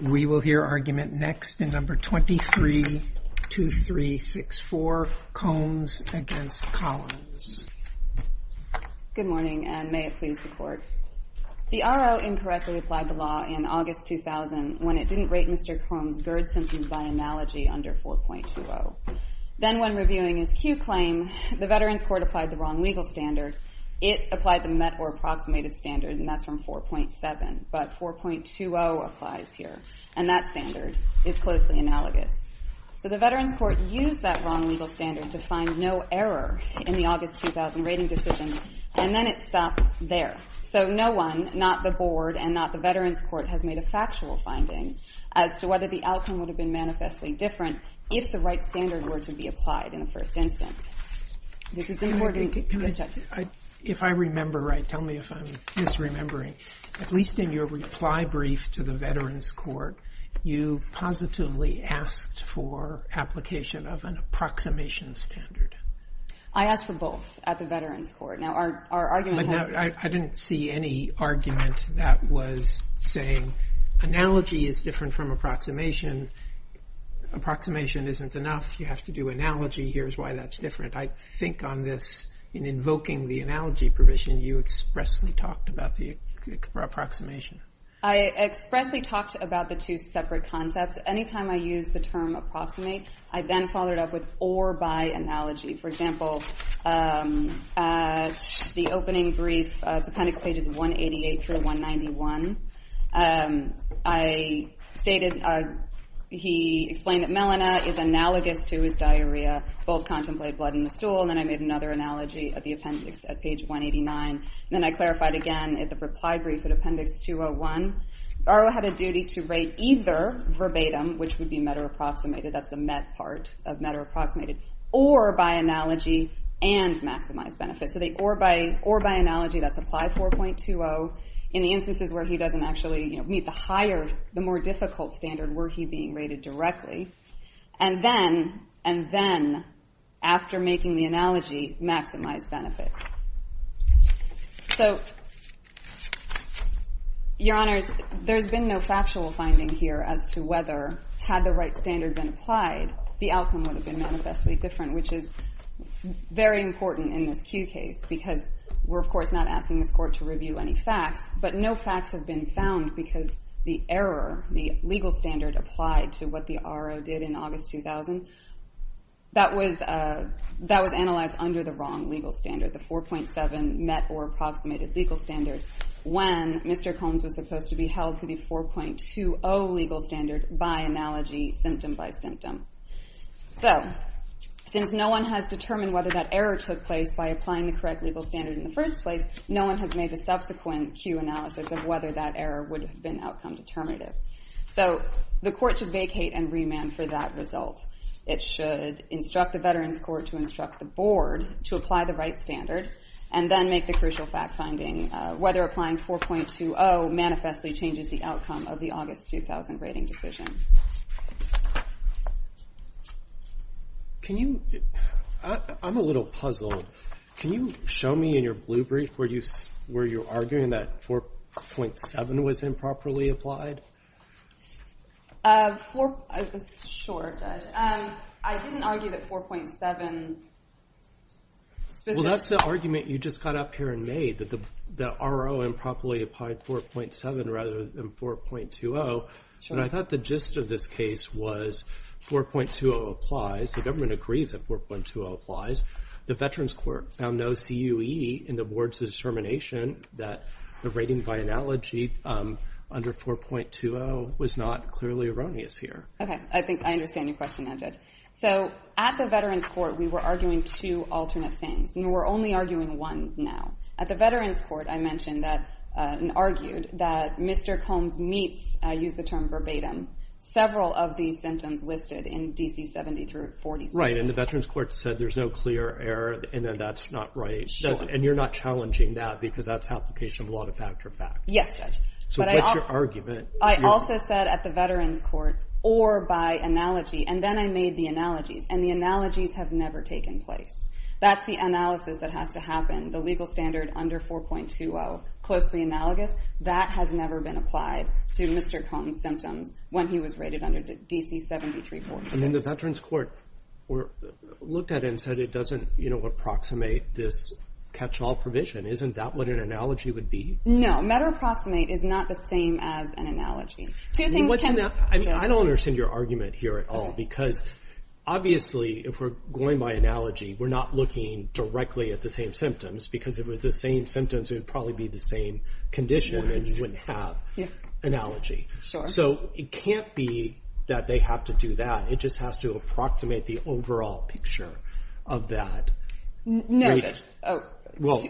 We will hear argument next in No. 23-2364, Combs v. Collins. Good morning, and may it please the Court. The R.O. incorrectly applied the law in August 2000 when it didn't rate Mr. Combs' GERD symptoms by analogy under 4.20. Then, when reviewing his Q claim, the Veterans Court applied the wrong legal standard. It applied the met or approximated standard, and that's from 4.7. But 4.20 applies here, and that standard is closely analogous. So the Veterans Court used that wrong legal standard to find no error in the August 2000 rating decision, and then it stopped there. So no one, not the Board and not the Veterans Court, has made a factual finding as to whether the outcome would have been manifestly different if the right standard were to be applied in the first instance. This is in Morgan. Yes, Judge. If I remember right, tell me if I'm misremembering. At least in your reply brief to the Veterans Court, you positively asked for application of an approximation standard. I asked for both at the Veterans Court. But I didn't see any argument that was saying analogy is different from approximation, approximation isn't enough, you have to do analogy, here's why that's different. I think on this, in invoking the analogy provision, you expressly talked about the approximation. I expressly talked about the two separate concepts. Anytime I use the term approximate, I then follow it up with or by analogy. For example, at the opening brief, it's appendix pages 188 through 191, I stated, he explained that melanoma is analogous to his diarrhea, both contemplate blood in the stool, and then I made another analogy at the appendix at page 189, and then I clarified again at the reply brief at appendix 201. Borrow had a duty to rate either verbatim, which would be meta-approximated, that's the met part of meta-approximated, or by analogy and maximize benefits. So the or by analogy, that's apply 4.20. In the instances where he doesn't actually meet the higher, the more difficult standard, were he being rated directly. And then, and then, after making the analogy, maximize benefits. So, your honors, there's been no factual finding here as to whether, had the right standard been applied, the outcome would have been manifestly different, which is very important in this Kew case, because we're, of course, not asking this court to review any facts, but no facts have been found because the error, the legal standard applied to what the RO did in August 2000, that was analyzed under the wrong legal standard, the 4.7 met or approximated legal standard, when Mr. Combs was supposed to be held to the 4.20 legal standard by analogy, symptom by symptom. So, since no one has determined whether that error took place by applying the correct legal standard in the first place, no one has made the subsequent Kew analysis of whether that error would have been outcome determinative. So, the court should vacate and remand for that result. It should instruct the Veterans Court to instruct the board to apply the right standard and then make the crucial fact finding whether applying 4.20 manifestly changes the outcome of the August 2000 rating decision. I'm a little puzzled. Can you show me in your blue brief where you're arguing that 4.7 was improperly applied? Sure, Judge. I didn't argue that 4.7... Well, that's the argument you just got up here and made, that the RO improperly applied 4.7 rather than 4.20. Sure. And I thought the gist of this case was 4.20 applies. The government agrees that 4.20 applies. The Veterans Court found no CUE in the board's determination that the rating by analogy under 4.20 was not clearly erroneous here. Okay, I think I understand your question now, Judge. So, at the Veterans Court, we were arguing two alternate things, and we're only arguing one now. At the Veterans Court, I mentioned and argued that Mr. Combs meets, I use the term verbatim, several of these symptoms listed in D.C. 70 through 46. Right, and the Veterans Court said there's no clear error and that that's not right. Sure. And you're not challenging that because that's application of law to factor fact. Yes, Judge. So, what's your argument? I also said at the Veterans Court, or by analogy, and then I made the analogies, and the analogies have never taken place. That's the analysis that has to happen. The legal standard under 4.20, closely analogous, that has never been applied to Mr. Combs' symptoms when he was rated under D.C. 73-46. And then the Veterans Court looked at it and said it doesn't approximate this catch-all provision. Isn't that what an analogy would be? No, meta-approximate is not the same as an analogy. I don't understand your argument here at all because, obviously, if we're going by analogy, we're not looking directly at the same symptoms. Because if it was the same symptoms, it would probably be the same condition and you wouldn't have an analogy. So, it can't be that they have to do that. It just has to approximate the overall picture of that. No, Judge. Well,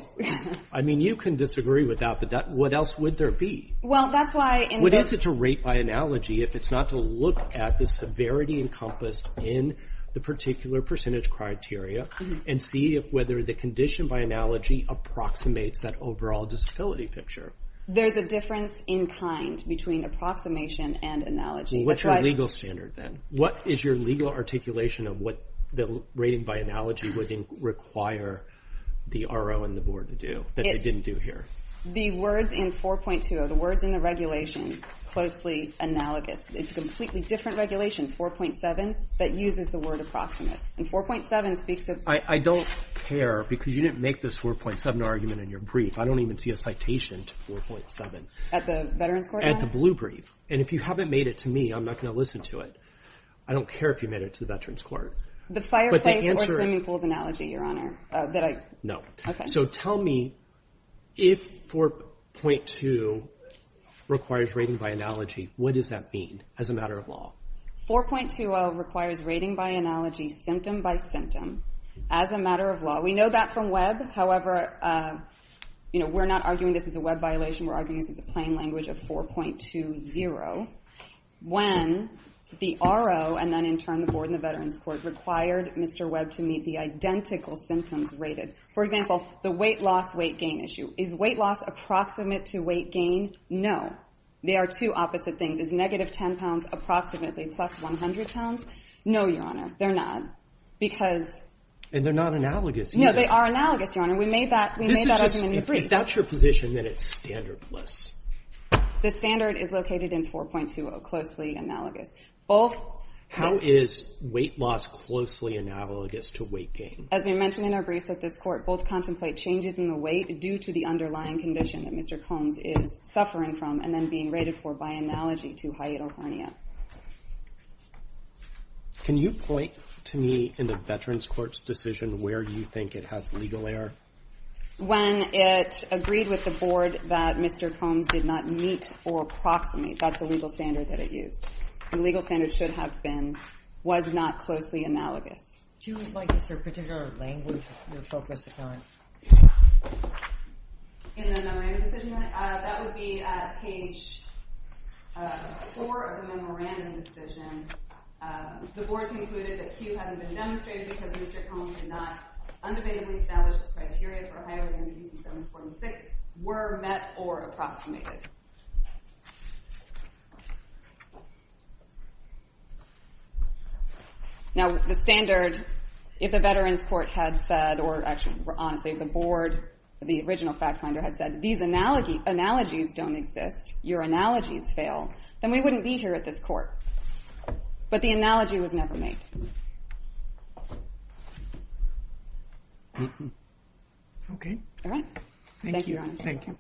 I mean, you can disagree with that, but what else would there be? Well, that's why in the- What is it to rate by analogy if it's not to look at the severity encompassed in the particular percentage criteria and see whether the condition by analogy approximates that overall disability picture? There's a difference in kind between approximation and analogy. Well, what's your legal standard then? What is your legal articulation of what the rating by analogy would require the RO and the Board to do that they didn't do here? The words in 4.20, the words in the regulation, closely analogous. It's a completely different regulation, 4.7, that uses the word approximate. And 4.7 speaks to- I don't care because you didn't make this 4.7 argument in your brief. I don't even see a citation to 4.7. At the Veterans Court? At the blue brief. And if you haven't made it to me, I'm not going to listen to it. I don't care if you made it to the Veterans Court. The fireplace or swimming pool's analogy, Your Honor, that I- No. Okay. So, tell me if 4.2 requires rating by analogy, what does that mean as a matter of law? 4.20 requires rating by analogy, symptom by symptom, as a matter of law. We know that from Webb. However, you know, we're not arguing this is a Webb violation. We're arguing this is a plain language of 4.20. When the RO and then in turn the Board and the Veterans Court required Mr. Webb to meet the identical symptoms rated. For example, the weight loss, weight gain issue. Is weight loss approximate to weight gain? No. They are two opposite things. Is negative 10 pounds approximately plus 100 pounds? No, Your Honor. They're not. Because- And they're not analogous either. No, they are analogous, Your Honor. We made that argument in the brief. If that's your position, then it's standardless. The standard is located in 4.20, closely analogous. Both- How is weight loss closely analogous to weight gain? As we mentioned in our briefs at this court, both contemplate changes in the weight due to the underlying condition that Mr. Combs is suffering from and then being rated for by analogy to hiatal hernia. Can you point to me in the Veterans Court's decision where you think it has legal error? When it agreed with the Board that Mr. Combs did not meet or approximate, that's the legal standard that it used. The legal standard should have been, was not closely analogous. Do you have a particular language you're focused on? In the memorandum decision? That would be page 4 of the memorandum decision. The Board concluded that cue having been demonstrated because Mr. Combs did not undubatedly establish the criteria for hiatal hernia use in 7.46 were met or approximated. Now, the standard, if the Veterans Court had said, or actually, honestly, if the Board, the original fact finder had said, these analogies don't exist, your analogies fail, then we wouldn't be here at this court. But the analogy was never made. Okay. All right. Thank you. Thank you.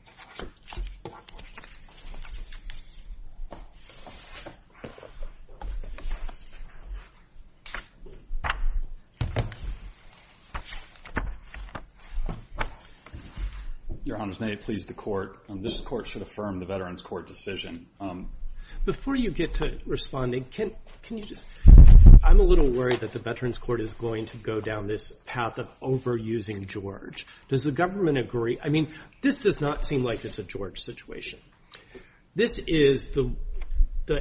Your Honors, may it please the Court, this Court should affirm the Veterans Court decision. Before you get to responding, can you just, I'm a little worried that the Veterans Court is going to go down this path of overusing George. Does the government agree? I mean, this does not seem like it's a George situation. This is the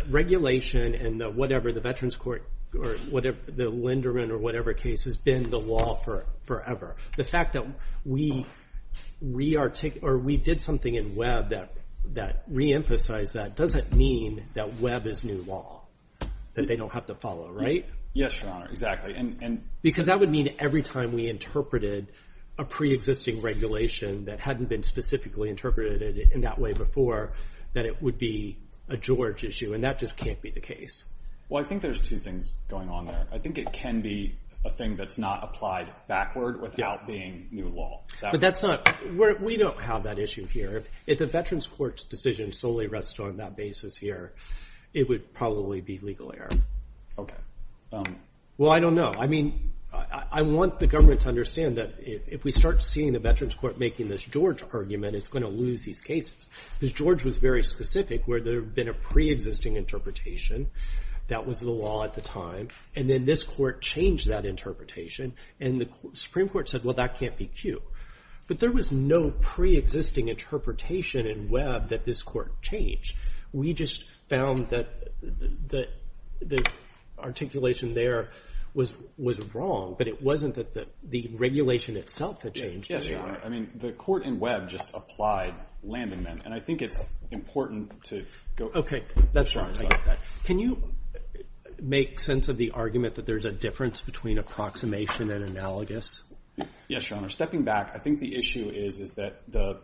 regulation and whatever the Veterans Court or the Linderman or whatever case has been the law forever. The fact that we did something in Webb that reemphasized that doesn't mean that Webb is new law, that they don't have to follow, right? Yes, Your Honor, exactly. Because that would mean every time we interpreted a preexisting regulation that hadn't been specifically interpreted in that way before, that it would be a George issue, and that just can't be the case. Well, I think there's two things going on there. I think it can be a thing that's not applied backward without being new law. But that's not, we don't have that issue here. If the Veterans Court's decision solely rests on that basis here, it would probably be legal error. Okay. Well, I don't know. I mean, I want the government to understand that if we start seeing the Veterans Court making this George argument, it's going to lose these cases. Because George was very specific where there had been a preexisting interpretation that was the law at the time, and then this court changed that interpretation, and the Supreme Court said, well, that can't be Q. But there was no preexisting interpretation in Webb that this court changed. We just found that the articulation there was wrong. But it wasn't the regulation itself that changed. Yes, Your Honor. I mean, the court in Webb just applied landing men. And I think it's important to go. Okay. That's fine. I get that. Can you make sense of the argument that there's a difference between approximation and analogous? Yes, Your Honor. Stepping back, I think the issue is that the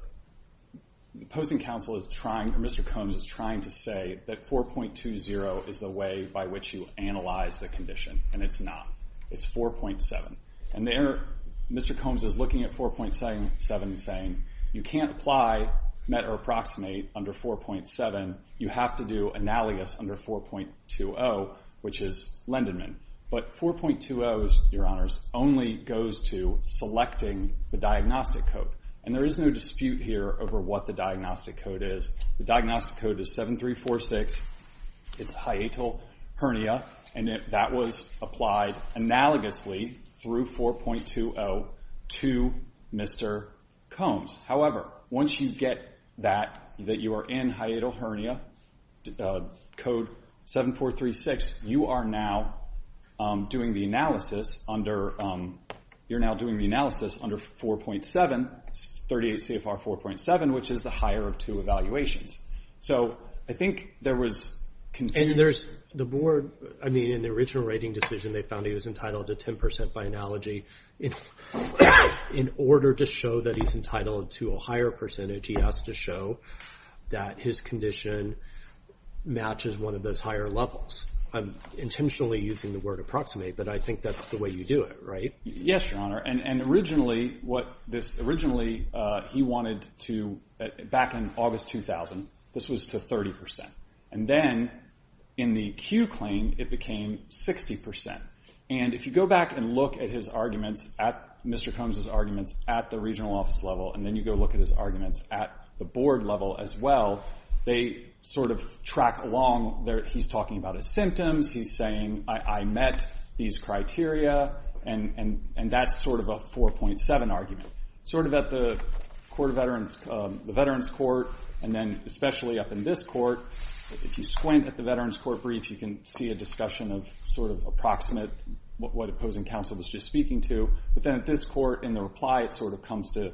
opposing counsel is trying, or Mr. Combs is trying, to say that 4.20 is the way by which you analyze the condition. And it's not. It's 4.7. And there Mr. Combs is looking at 4.7 and saying, you can't apply met or approximate under 4.7. You have to do analogous under 4.20, which is lending men. But 4.20, Your Honors, only goes to selecting the diagnostic code. And there is no dispute here over what the diagnostic code is. The diagnostic code is 7346. It's hiatal hernia. And that was applied analogously through 4.20 to Mr. Combs. However, once you get that, that you are in hiatal hernia, code 7436, you are now doing the analysis under 4.7, 38 CFR 4.7, which is the higher of two evaluations. So I think there was confusion. And there's the board, I mean, in the original rating decision, they found he was entitled to 10% by analogy. In order to show that he's entitled to a higher percentage, he has to show that his condition matches one of those higher levels. I'm intentionally using the word approximate, but I think that's the way you do it, right? Yes, Your Honor. And originally, what this originally, he wanted to, back in August 2000, this was to 30%. And then in the Q claim, it became 60%. And if you go back and look at his arguments, at Mr. Combs' arguments, at the regional office level, and then you go look at his arguments at the board level as well, they sort of track along. He's talking about his symptoms. He's saying, I met these criteria. And that's sort of a 4.7 argument. Sort of at the veterans court, and then especially up in this court, if you squint at the veterans court brief, you can see a discussion of sort of approximate what opposing counsel was just speaking to. But then at this court, in the reply, it sort of comes to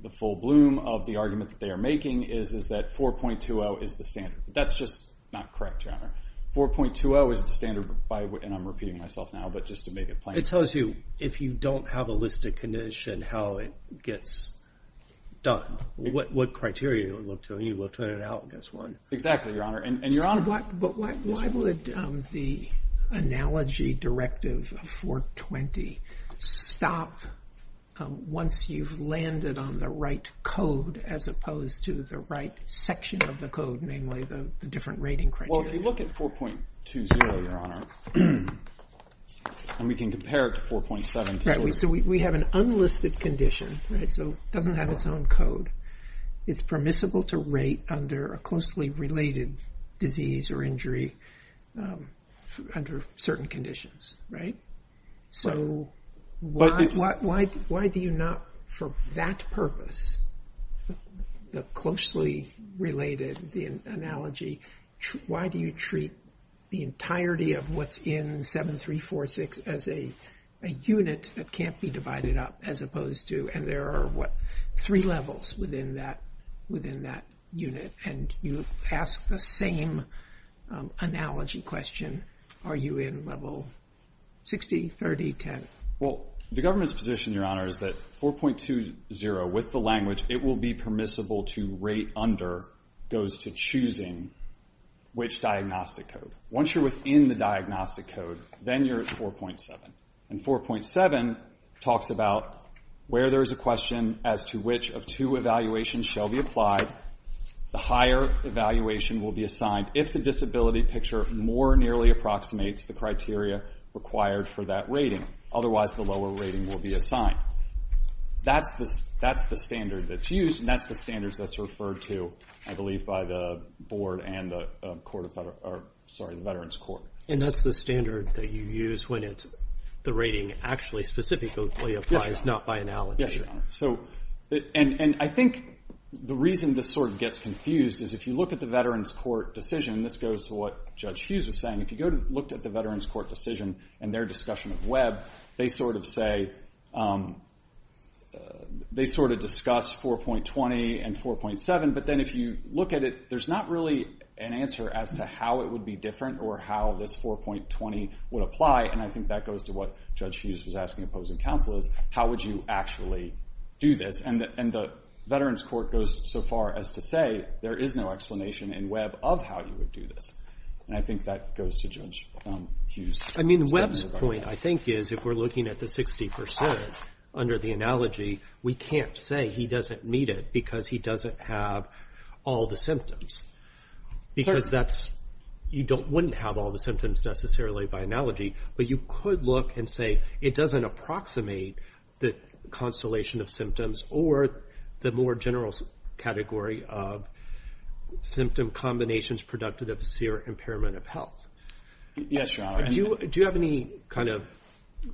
the full bloom of the argument that they are making is that 4.20 is the standard. That's just not correct, Your Honor. 4.20 is the standard, and I'm repeating myself now, but just to make it plain. It tells you, if you don't have a listed condition, how it gets done. What criteria you look to, and you will turn it out, guess what. Exactly, Your Honor. But why would the analogy directive of 4.20 stop once you've landed on the right code, as opposed to the right section of the code, namely the different rating criteria? Well, if you look at 4.20, Your Honor, and we can compare it to 4.7. So we have an unlisted condition, so it doesn't have its own code. It's permissible to rate under a closely related disease or injury under certain conditions, right? So why do you not, for that purpose, the closely related analogy, why do you treat the entirety of what's in 7346 as a unit that can't be divided up, as opposed to, and there are, what, three levels within that unit, and you ask the same analogy question. Are you in level 60, 30, 10? Well, the government's position, Your Honor, is that 4.20, with the language, it will be permissible to rate under, goes to choosing which diagnostic code. Once you're within the diagnostic code, then you're at 4.7. And 4.7 talks about where there's a question as to which of two evaluations shall be applied. The higher evaluation will be assigned if the disability picture more nearly approximates the criteria required for that rating. Otherwise, the lower rating will be assigned. Now, that's the standard that's used, and that's the standard that's referred to, I believe, by the Board and the Court of Veterans, or, sorry, the Veterans Court. And that's the standard that you use when the rating actually specifically applies, not by analogy? Yes, Your Honor. And I think the reason this sort of gets confused is if you look at the Veterans Court decision, this goes to what Judge Hughes was saying, if you looked at the Veterans Court decision and their discussion of Webb, they sort of say, they sort of discuss 4.20 and 4.7, but then if you look at it, there's not really an answer as to how it would be different or how this 4.20 would apply. And I think that goes to what Judge Hughes was asking opposing counsel is, how would you actually do this? And the Veterans Court goes so far as to say there is no explanation in Webb of how you would do this. And I think that goes to Judge Hughes. I mean, Webb's point, I think, is if we're looking at the 60 percent under the analogy, we can't say he doesn't meet it because he doesn't have all the symptoms. Because that's, you don't, wouldn't have all the symptoms necessarily by analogy, but you could look and say it doesn't approximate the constellation of symptoms or the more general category of symptom combinations productive of severe impairment of health. Yes, Your Honor. Do you have any kind of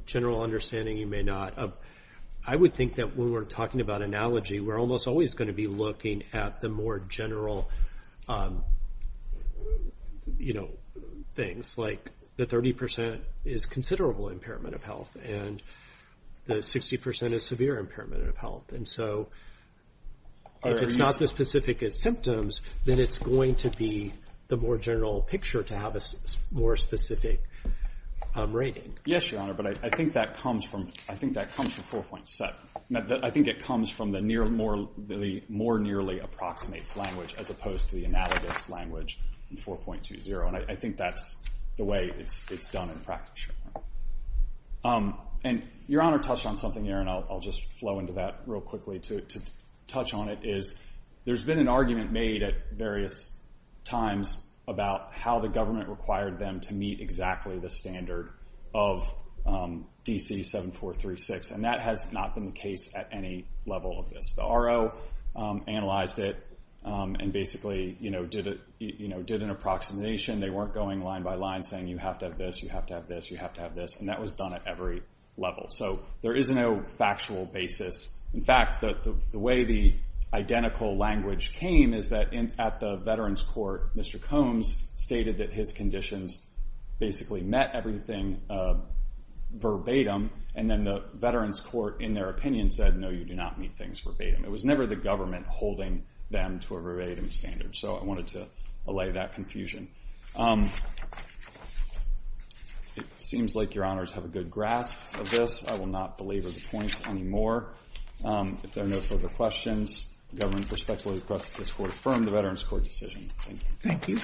general understanding? You may not. I would think that when we're talking about analogy, we're almost always going to be looking at the more general, you know, things. Like the 30 percent is considerable impairment of health, and the 60 percent is severe impairment of health. And so if it's not this specific as symptoms, then it's going to be the more general picture to have a more specific rating. Yes, Your Honor. But I think that comes from 4.7. I think it comes from the more nearly approximates language as opposed to the analogous language in 4.20. And I think that's the way it's done in practice. And Your Honor touched on something here, and I'll just flow into that real quickly to touch on it, which is there's been an argument made at various times about how the government required them to meet exactly the standard of DC 7436. And that has not been the case at any level of this. The RO analyzed it and basically, you know, did an approximation. They weren't going line by line saying you have to have this, you have to have this, you have to have this. And that was done at every level. So there is no factual basis. In fact, the way the identical language came is that at the Veterans Court, Mr. Combs stated that his conditions basically met everything verbatim. And then the Veterans Court, in their opinion, said, no, you do not meet things verbatim. It was never the government holding them to a verbatim standard. So I wanted to allay that confusion. It seems like Your Honors have a good grasp of this. I will not belabor the points anymore. If there are no further questions, the government respectfully requests that this court affirm the Veterans Court decision. Thank you. Thank you.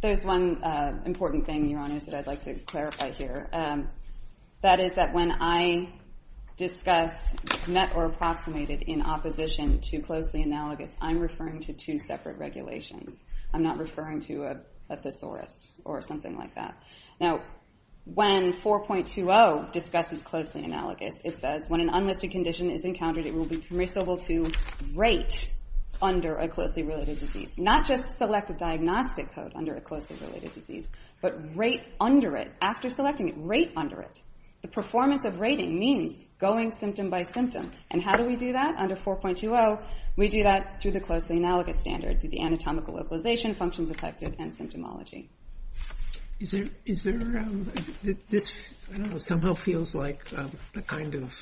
There is one important thing, Your Honors, that I'd like to clarify here. That is that when I discuss met or approximated in opposition to closely analogous, I'm referring to two separate regulations. I'm not referring to a thesaurus or something like that. Now, when 4.20 discusses closely analogous, it says, when an unlisted condition is encountered, it will be permissible to rate under a closely related disease. Not just select a diagnostic code under a closely related disease, but rate under it. After selecting it, rate under it. The performance of rating means going symptom by symptom. And how do we do that? Under 4.20, we do that through the closely analogous standard, through the anatomical localization, functions affected, and symptomology. This somehow feels like the kind of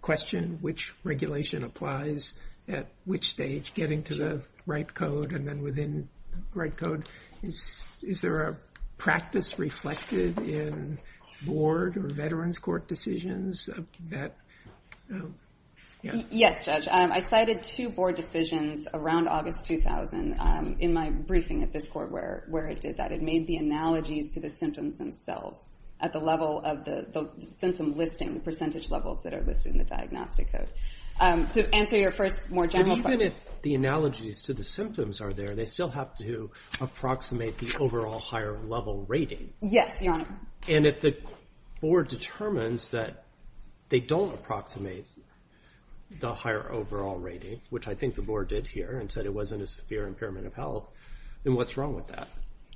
question, which regulation applies at which stage, getting to the right code and then within the right code. Is there a practice reflected in board or Veterans Court decisions? Yes, Judge. I cited two board decisions around August 2000 in my briefing at this court where it did that. It made the analogies to the symptoms themselves at the level of the symptom listing, the percentage levels that are listed in the diagnostic code. To answer your first more general question. Even if the analogies to the symptoms are there, they still have to approximate the overall higher level rating. Yes, Your Honor. And if the board determines that they don't approximate the higher overall rating, which I think the board did here and said it wasn't a severe impairment of health, then what's wrong with that?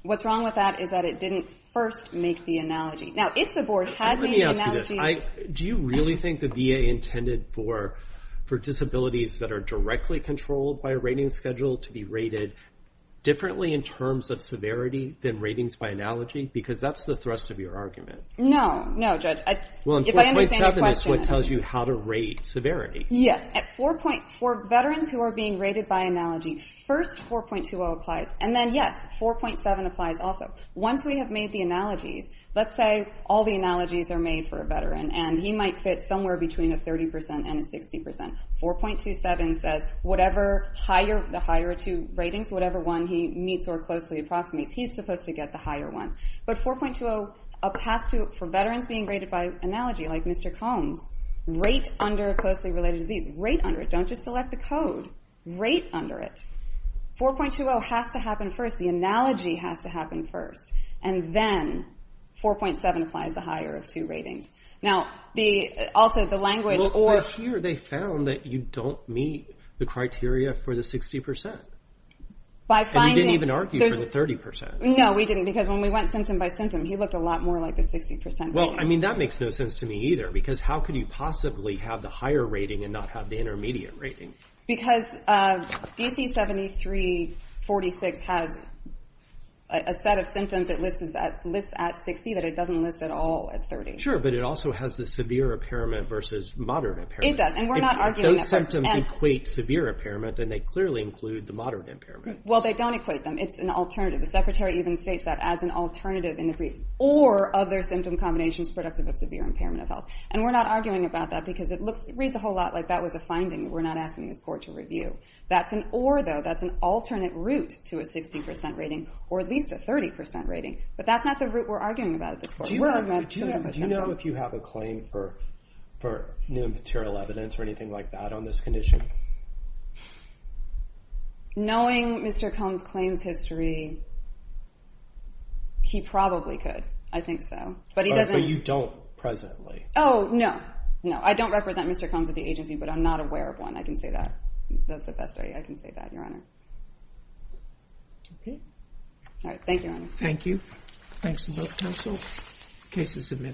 What's wrong with that is that it didn't first make the analogy. Now, if the board had made the analogy. Let me ask you this. Do you really think the VA intended for disabilities that are directly controlled by a rating schedule to be rated differently in terms of severity than ratings by analogy? Because that's the thrust of your argument. No, no, Judge. Well, 4.7 is what tells you how to rate severity. Yes. For Veterans who are being rated by analogy, first 4.20 applies. And then, yes, 4.7 applies also. Once we have made the analogies, let's say all the analogies are made for a Veteran and he might fit somewhere between a 30% and a 60%. 4.27 says the higher two ratings, whatever one he meets or closely approximates, he's supposed to get the higher one. But 4.20, for Veterans being rated by analogy, like Mr. Combs, rate under a closely related disease. Rate under it. Don't just select the code. Rate under it. 4.20 has to happen first. The analogy has to happen first. And then 4.7 applies the higher of two ratings. Or here they found that you don't meet the criteria for the 60%. And you didn't even argue for the 30%. No, we didn't. Because when we went symptom by symptom, he looked a lot more like the 60% rating. Well, I mean, that makes no sense to me either. Because how could you possibly have the higher rating and not have the intermediate rating? Because DC7346 has a set of symptoms it lists at 60% that it doesn't list at all at 30%. Sure, but it also has the severe impairment versus moderate impairment. It does, and we're not arguing that. If those symptoms equate severe impairment, then they clearly include the moderate impairment. Well, they don't equate them. It's an alternative. The Secretary even states that as an alternative in the brief. Or other symptom combinations productive of severe impairment of health. And we're not arguing about that because it reads a whole lot like that was a finding. We're not asking this Court to review. That's an or, though. That's an alternate route to a 60% rating or at least a 30% rating. But that's not the route we're arguing about at this Court. Do you know if you have a claim for new material evidence or anything like that on this condition? Knowing Mr. Combs' claims history, he probably could. I think so. But you don't presently. Oh, no. No, I don't represent Mr. Combs at the agency, but I'm not aware of one. I can say that. That's the best I can say that, Your Honor. Thank you, Your Honor. Thank you. Thanks to both counsel. Case is submitted.